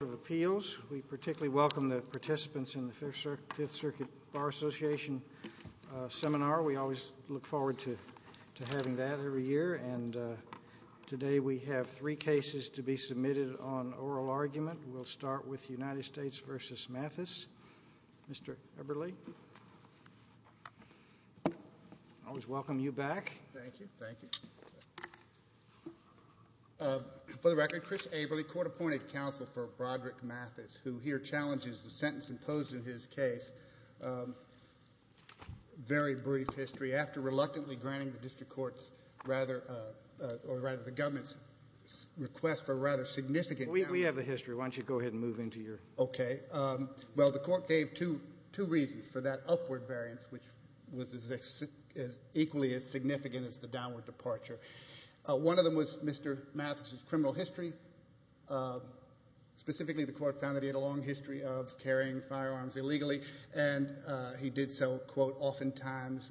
of Appeals. We particularly welcome the participants in the Fifth Circuit Bar Association Seminar. We always look forward to having that every year. Today we have three cases to be submitted on oral argument. We'll start with United States v. Mathes. Mr. Eberle, I always welcome you back. Thank you, thank you. For the record, Chris Eberle, Court Appointed Counsel for Broderick Mathes, who here challenges the sentence imposed in his case. Very brief history. After reluctantly granting the district court's rather, or rather the government's request for rather significant... We have the history. Why don't you go ahead and move into your... Okay. Well, the court gave two reasons for that upward variance, which was as equally as significant as the downward departure. One of them was Mr. Mathes' criminal history. Specifically the court found that he had a long history of carrying firearms illegally, and he did so, quote, oftentimes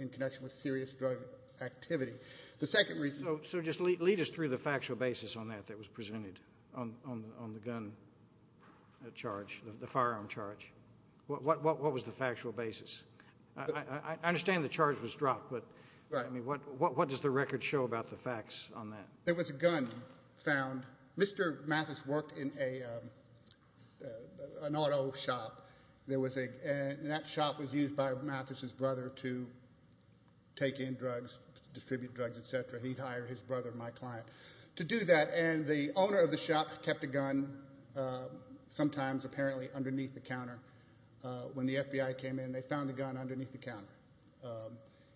in connection with serious drug activity. The second reason... So just lead us through the factual basis on that that was presented on the gun charge, the firearm charge. What was the factual basis? I understand the charge was dropped, but what does the record show about the facts on that? There was a gun found... Mr. Mathes worked in an auto shop. That shop was used by Mathes' brother to take in drugs, distribute drugs, et cetera. He hired his brother, my client, to do that. And the owner of the shop kept a gun sometimes, apparently, underneath the counter. When the FBI came in, they found the gun underneath the counter.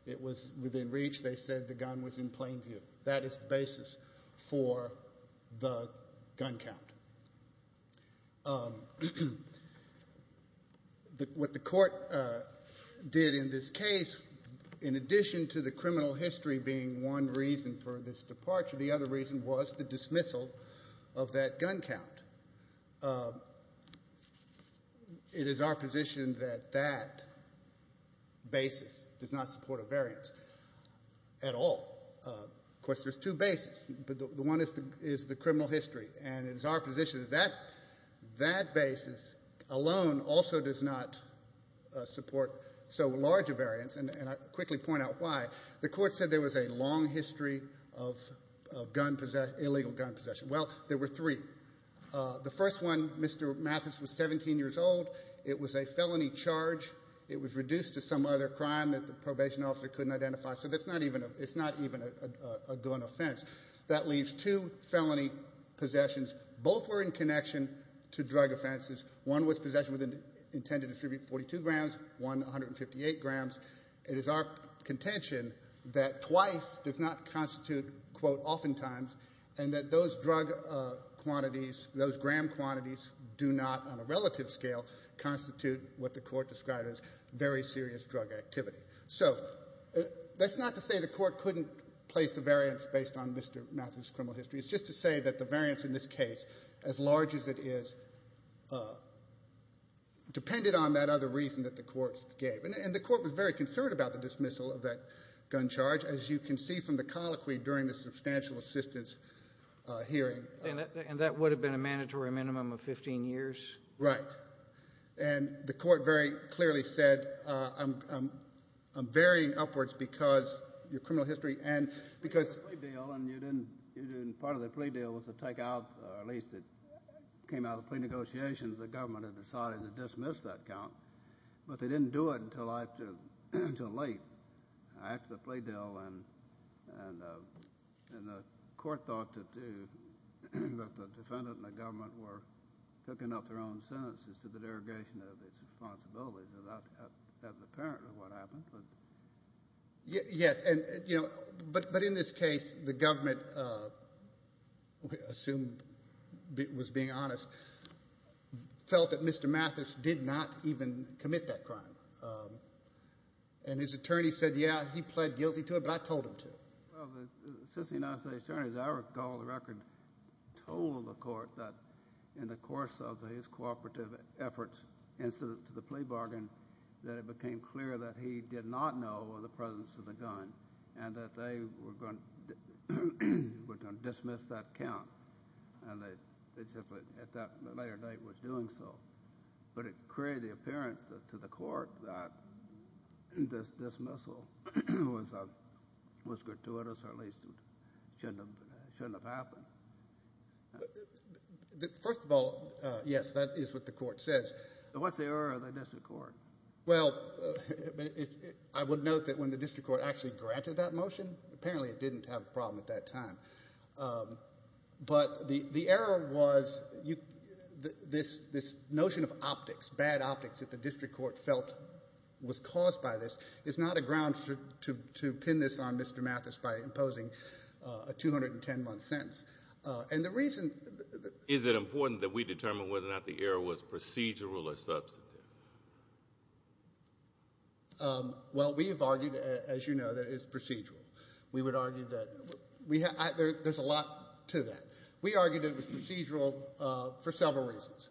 It was within reach. They said the gun was in plain view. That is the basis for the gun count. What the court did in this case, in addition to the criminal history being one reason for this departure, the other reason was the dismissal of that gun count. It is our position that that basis does not support a variance at all. Of course, there's two bases, but the one is the criminal history, and it is our position that that basis alone also does not support so large a variance, and I'll quickly point out why. The court said there was a long history of illegal gun possession. Well, there were three. The first one, Mr. Mathes was 17 years old. It was a felony charge. It was reduced to some other crime that the probation officer couldn't identify, so it's not even a gun offense. That leaves two felony possessions. Both were in connection to drug offenses. One was possession intended to distribute 42 grams, one 158 grams. It is our contention that twice does not constitute, quote, oftentimes, and that those drug quantities, those gram quantities do not, on a relative scale, constitute what the court described as very serious drug activity. So that's not to say the court couldn't place a variance based on Mr. Mathes' criminal history. It's just to say that the variance in this case, as large as it is, depended on that other reason that the court gave, and the court was very concerned about the gun charge, as you can see from the colloquy during the substantial assistance hearing. And that would have been a mandatory minimum of 15 years? Right. And the court very clearly said, I'm varying upwards because your criminal history and because... Part of the plea deal was to take out, or at least it came out of the plea negotiations, the government had decided to dismiss that count, but they didn't do it until late. After the plea deal, and the court thought to do, but the defendant and the government were cooking up their own sentences to the derogation of its responsibilities. That's apparently what happened, but... Yes, and, you know, but in this case, the government, assumed, was being honest, felt that Mr. Mathes did not even commit that crime. And his attorney said, yeah, he pled guilty to it, but I told him to. Well, since he's an attorney, as I recall, the record told the court that in the course of his cooperative efforts, incident to the plea bargain, that it became clear that he did not know of the presence of the gun, and that they were going to dismiss that count. And they simply, at that later night, were doing so. But it created the appearance to the court that this dismissal was gratuitous, or at least shouldn't have happened. First of all, yes, that is what the court says. What's the error of the district court? Well, I would note that when the district court actually granted that motion, apparently it didn't have a problem at that time. But the error was this notion of optics, bad optics that the district court felt was caused by this, is not a ground to pin this on Mr. Mathes by imposing a 210-month sentence. And the reason... Is it important that we determine whether or not the error was procedural or substantive? Well, we have argued, as you know, that it is procedural. We would argue that... There's a lot to that. We argue that it was procedural for several reasons.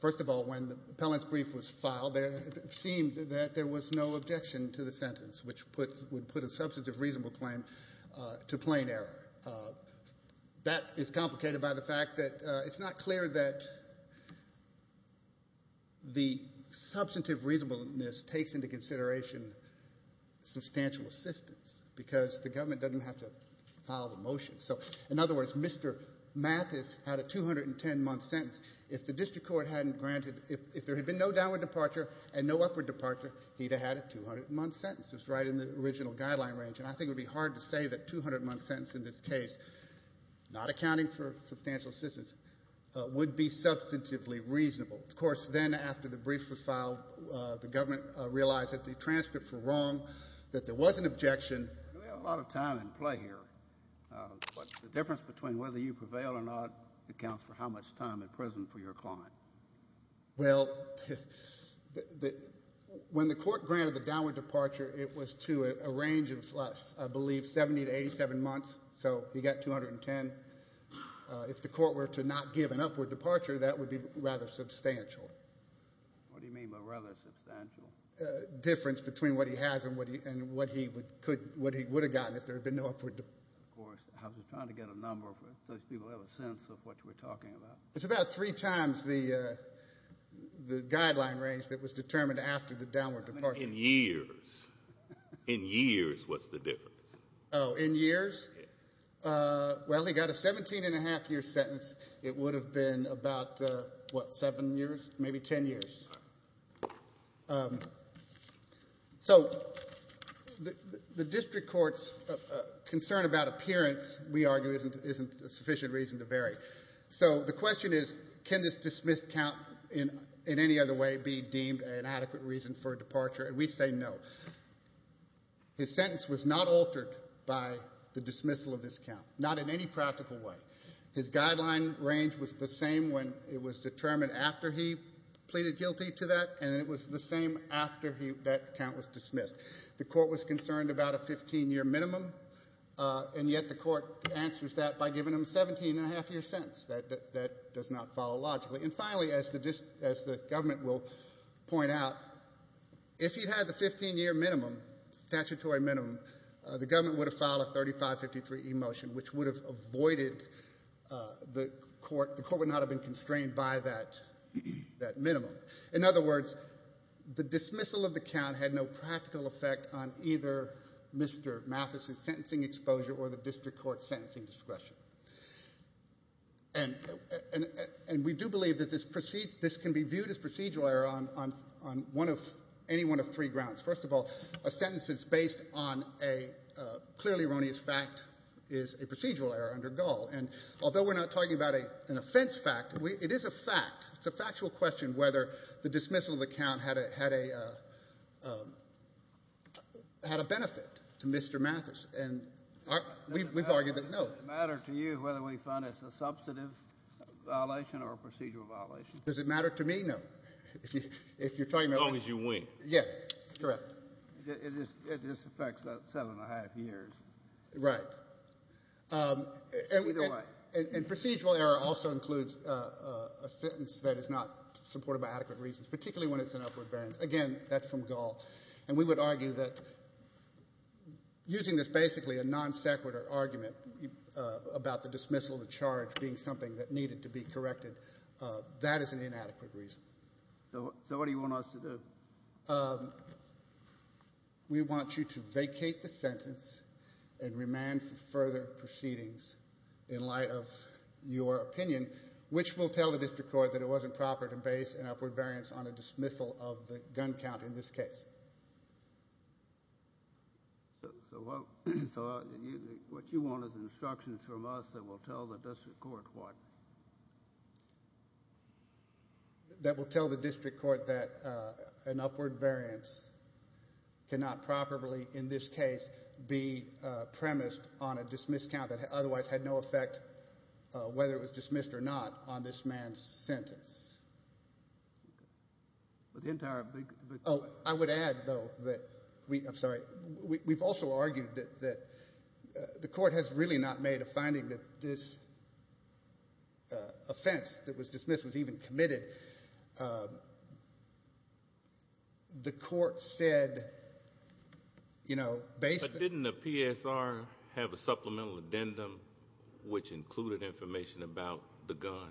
First of all, when the appellant's brief was filed, it seemed that there was no objection to the sentence, which would put a substantive reasonable claim to plain error. That is complicated by the fact that it's not clear that the substantive reasonableness takes into consideration substantial assistance, because the government doesn't have to file the motion. So, in other words, Mr. Mathes had a 210-month sentence. If the district court hadn't granted... If there had been no downward departure and no upward departure, he'd have had a 200-month sentence. It was right in the original guideline range. And I think it would be hard to say that a 200-month sentence in this case, not accounting for substantial assistance, would be substantively reasonable. Of course, then, after the brief was filed, the government realized that the transcripts were wrong, that there was an objection. We have a lot of time at play here. But the difference between whether you prevail or not accounts for how much time in prison for your client. Well, when the court granted the downward departure, it was to a range of, I believe, 70 to 87 months. So he got 210. If the court were to not give an upward departure, that would be rather substantial. What do you mean by rather substantial? Difference between what he has and what he would have gotten if there had been no upward departure. Of course. I was just trying to get a number so people have a sense of what we're talking about. It's about three times the guideline range that was determined after the downward departure. In years. In years, what's the difference? Oh, in years? Well, he got a 17-and-a-half-year sentence. It would have been about, what, 7 years, maybe 10 years. So the district court's concern about appearance, we argue, isn't a sufficient reason to vary. So the question is, can this dismissed count in any other way be deemed an adequate reason for a departure? And we say no. His sentence was not altered by the dismissal of his count, not in any practical way. His guideline range was the same when it was determined after he pleaded guilty to that, and it was the same after that count was dismissed. The court was concerned about a 15-year minimum, and yet the court answers that by giving him a 17-and-a-half-year sentence. That does not follow logically. And finally, as the government will point out, if he'd had the 15-year minimum, statutory minimum, the government would have filed a 3553E motion, which would have avoided the court. The court would not have been constrained by that minimum. In other words, the dismissal of the count had no practical effect on either Mr. Mathis's sentencing exposure or the district court's sentencing discretion. And we do believe that this can be viewed as procedural error on any one of three grounds. First of all, a sentence that's based on a clearly erroneous fact is a procedural error under Gull. And although we're not talking about an offense fact, it is a fact. It's a factual question whether the dismissal of the count had a benefit to Mr. Mathis. And we've argued that no. Does it matter to you whether we find it's a substantive violation or a procedural violation? Does it matter to me? No. As long as you win. Yes, correct. It just affects that seven-and-a-half years. Right. It's either way. And procedural error also includes a sentence that is not supported by adequate reasons, particularly when it's an upward variance. Again, that's from Gull. And we would argue that using this basically a non sequitur argument about the dismissal of a charge being something that needed to be corrected, that is an inadequate reason. So what do you want us to do? We want you to vacate the sentence and remand for further proceedings in light of your opinion, which will tell the district court that it wasn't proper to base an upward variance on a dismissal of the gun count in this case. So what you want is instructions from us that will tell the district court what? That will tell the district court that an upward variance cannot properly, in this case, be premised on a dismiss count that otherwise had no effect, whether it was dismissed or not, on this man's sentence. But the entire big point. Oh, I would add, though, that we – I'm sorry. We've also argued that the court has really not made a finding that this offense that was dismissed was even committed. The court said, you know, based – But didn't the PSR have a supplemental addendum which included information about the gun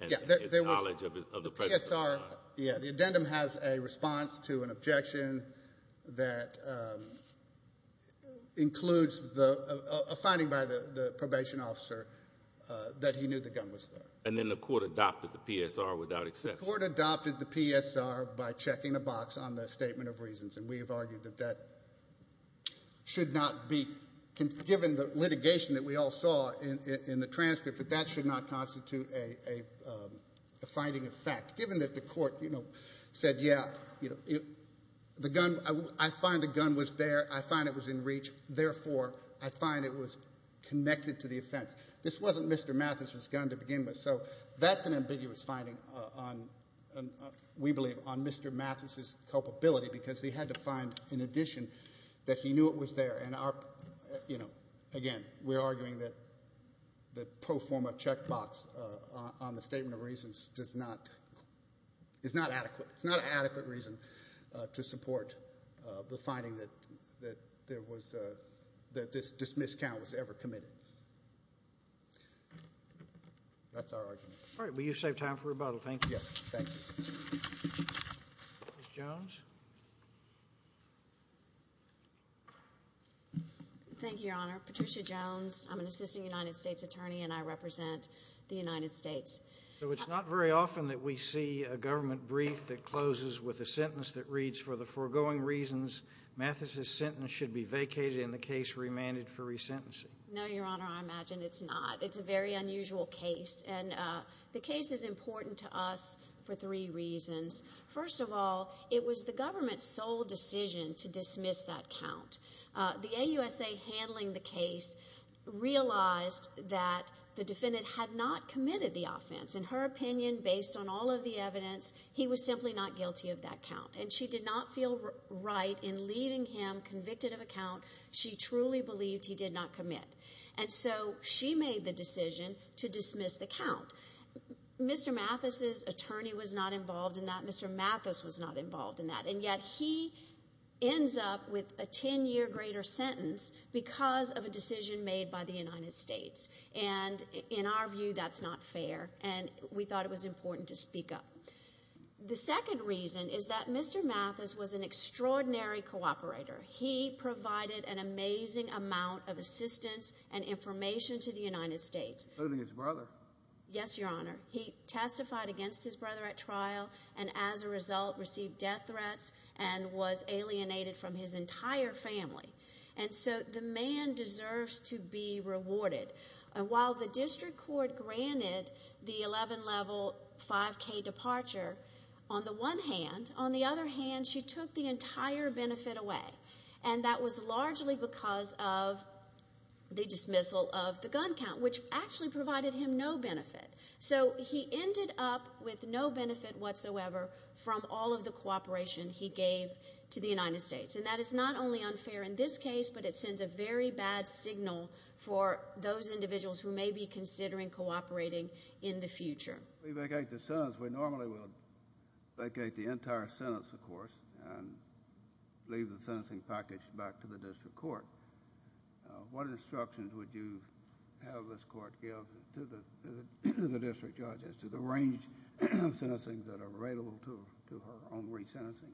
and its knowledge of the presence of a gun? Yeah, the addendum has a response to an objection that includes a finding by the probation officer that he knew the gun was there. And then the court adopted the PSR without exception. The court adopted the PSR by checking a box on the statement of reasons, and we have argued that that should not be – given the litigation that we all saw in the transcript, that that should not constitute a finding of fact. Given that the court, you know, said, yeah, the gun – I find the gun was there. I find it was in reach. Therefore, I find it was connected to the offense. This wasn't Mr. Mathis's gun to begin with. So that's an ambiguous finding on, we believe, on Mr. Mathis's culpability because he had to find, in addition, that he knew it was there. And our – you know, again, we're arguing that the pro forma checkbox on the statement of reasons does not – is not adequate. It's not an adequate reason to support the finding that there was – that this miscount was ever committed. That's our argument. All right. Well, you saved time for rebuttal. Thank you. Yes, thank you. Ms. Jones. Thank you, Your Honor. Patricia Jones. I'm an assistant United States attorney, and I represent the United States. So it's not very often that we see a government brief that closes with a sentence that reads, for the foregoing reasons, Mathis's sentence should be vacated and the case remanded for resentencing. No, Your Honor. I imagine it's not. It's a very unusual case. And the case is important to us for three reasons. First of all, it was the government's sole decision to dismiss that count. The AUSA handling the case realized that the defendant had not committed the offense. In her opinion, based on all of the evidence, he was simply not guilty of that count. And she did not feel right in leaving him convicted of a count she truly believed he did not commit. And so she made the decision to dismiss the count. Mr. Mathis's attorney was not involved in that. Mr. Mathis was not involved in that. And yet he ends up with a 10-year greater sentence because of a decision made by the United States. And in our view, that's not fair, and we thought it was important to speak up. The second reason is that Mr. Mathis was an extraordinary cooperator. He provided an amazing amount of assistance and information to the United States. Including his brother. Yes, Your Honor. He testified against his brother at trial and, as a result, received death threats and was alienated from his entire family. And so the man deserves to be rewarded. And while the district court granted the 11-level 5K departure, on the one hand, on the other hand, she took the entire benefit away. And that was largely because of the dismissal of the gun count, which actually provided him no benefit. So he ended up with no benefit whatsoever from all of the cooperation he gave to the United States. And that is not only unfair in this case, but it sends a very bad signal for those individuals who may be considering cooperating in the future. We vacate the sentence. We normally would vacate the entire sentence, of course, and leave the sentencing package back to the district court. What instructions would you have this court give to the district judge as to the range of sentencing that are available to her on resentencing?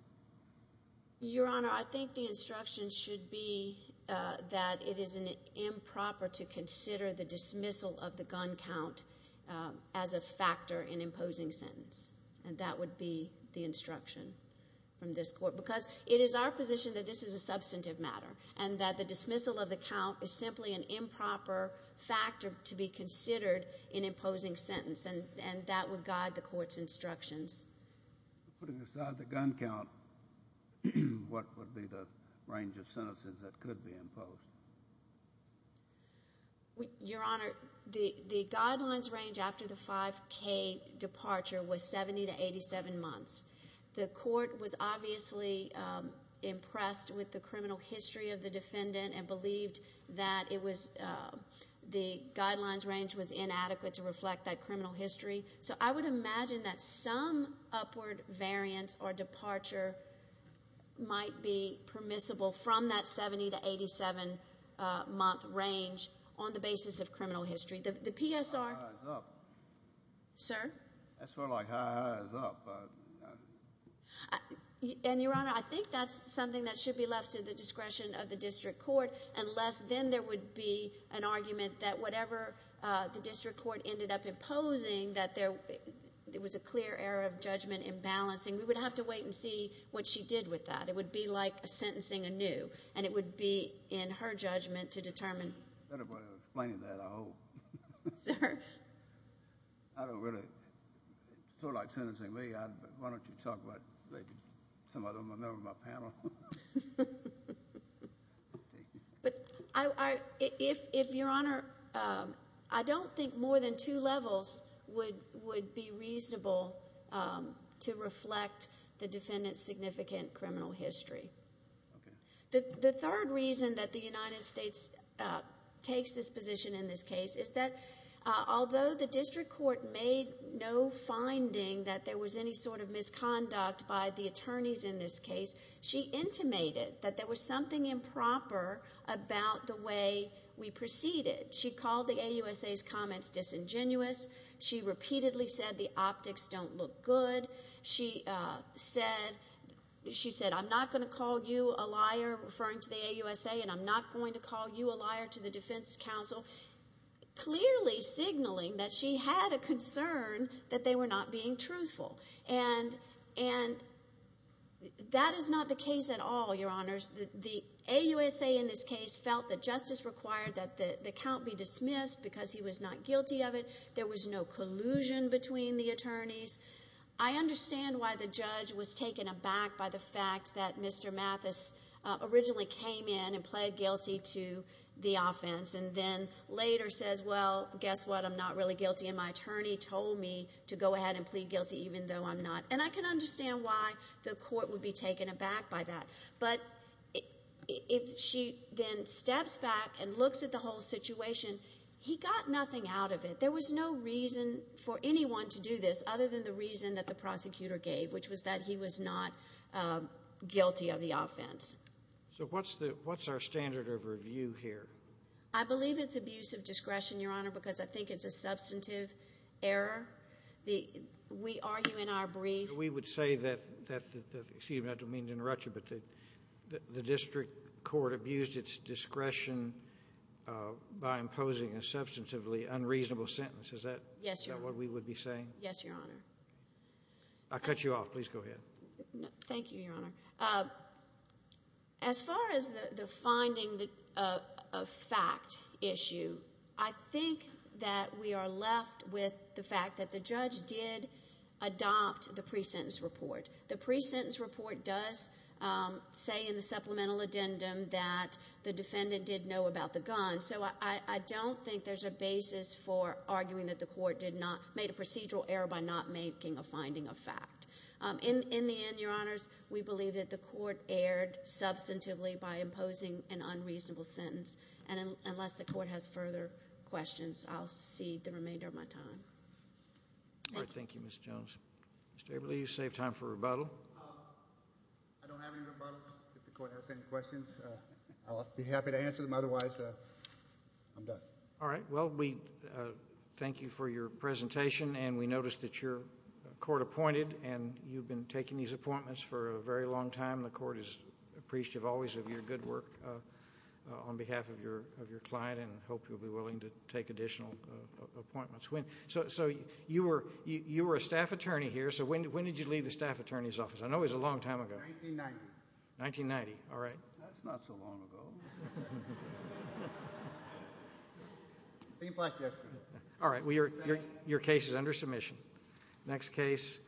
Your Honor, I think the instruction should be that it is improper to consider the dismissal of the gun count as a factor in imposing sentence, and that would be the instruction from this court. Because it is our position that this is a substantive matter and that the dismissal of the count is simply an improper factor to be considered in imposing sentence, and that would guide the court's instructions. Putting aside the gun count, what would be the range of sentences that could be imposed? Your Honor, the guidelines range after the 5K departure was 70 to 87 months. The court was obviously impressed with the criminal history of the defendant and believed that the guidelines range was inadequate to reflect that criminal history. So I would imagine that some upward variance or departure might be permissible from that 70 to 87-month range on the basis of criminal history. The PSR— Ha-ha's up. Sir? That's more like ha-ha's up. And, Your Honor, I think that's something that should be left to the discretion of the district court, unless then there would be an argument that whatever the district court ended up imposing, that there was a clear error of judgment in balancing. We would have to wait and see what she did with that. It would be like sentencing anew, and it would be in her judgment to determine. Better way of explaining that, I hope. Sir? I don't really—it's sort of like sentencing me. Why don't you talk about maybe some other member of my panel? Ha-ha. But if, Your Honor, I don't think more than two levels would be reasonable to reflect the defendant's significant criminal history. Okay. The third reason that the United States takes this position in this case is that although the district court made no finding that there was any sort of misconduct by the attorneys in this case, she intimated that there was something improper about the way we proceeded. She called the AUSA's comments disingenuous. She repeatedly said the optics don't look good. She said, I'm not going to call you a liar, referring to the AUSA, and I'm not going to call you a liar to the defense counsel, clearly signaling that she had a concern that they were not being truthful. And that is not the case at all, Your Honors. The AUSA in this case felt that justice required that the count be dismissed because he was not guilty of it. There was no collusion between the attorneys. I understand why the judge was taken aback by the fact that Mr. Mathis originally came in and pled guilty to the offense and then later says, well, guess what, I'm not really guilty, and my attorney told me to go ahead and plead guilty even though I'm not. And I can understand why the court would be taken aback by that. But if she then steps back and looks at the whole situation, he got nothing out of it. There was no reason for anyone to do this other than the reason that the prosecutor gave, which was that he was not guilty of the offense. So what's our standard of review here? I believe it's abuse of discretion, Your Honor, because I think it's a substantive error. We argue in our brief. We would say that the district court abused its discretion by imposing a substantively unreasonable sentence. Is that what we would be saying? Yes, Your Honor. I'll cut you off. Please go ahead. Thank you, Your Honor. As far as the finding of fact issue, I think that we are left with the fact that the judge did adopt the pre-sentence report. The pre-sentence report does say in the supplemental addendum that the defendant did know about the gun. So I don't think there's a basis for arguing that the court made a procedural error by not making a finding of fact. In the end, Your Honors, we believe that the court erred substantively by imposing an unreasonable sentence. And unless the court has further questions, I'll cede the remainder of my time. All right. Thank you, Ms. Jones. Mr. Eberle, you saved time for rebuttal. I don't have any rebuttals. If the court has any questions, I'll be happy to answer them. Otherwise, I'm done. All right. Well, we thank you for your presentation, and we noticed that your court appointed, and you've been taking these appointments for a very long time. The court is appreciative always of your good work on behalf of your client and hope you'll be willing to take additional appointments. So you were a staff attorney here. So when did you leave the staff attorney's office? I know it was a long time ago. 1990. 1990. All right. That's not so long ago. All right. Your case is under submission. Next case.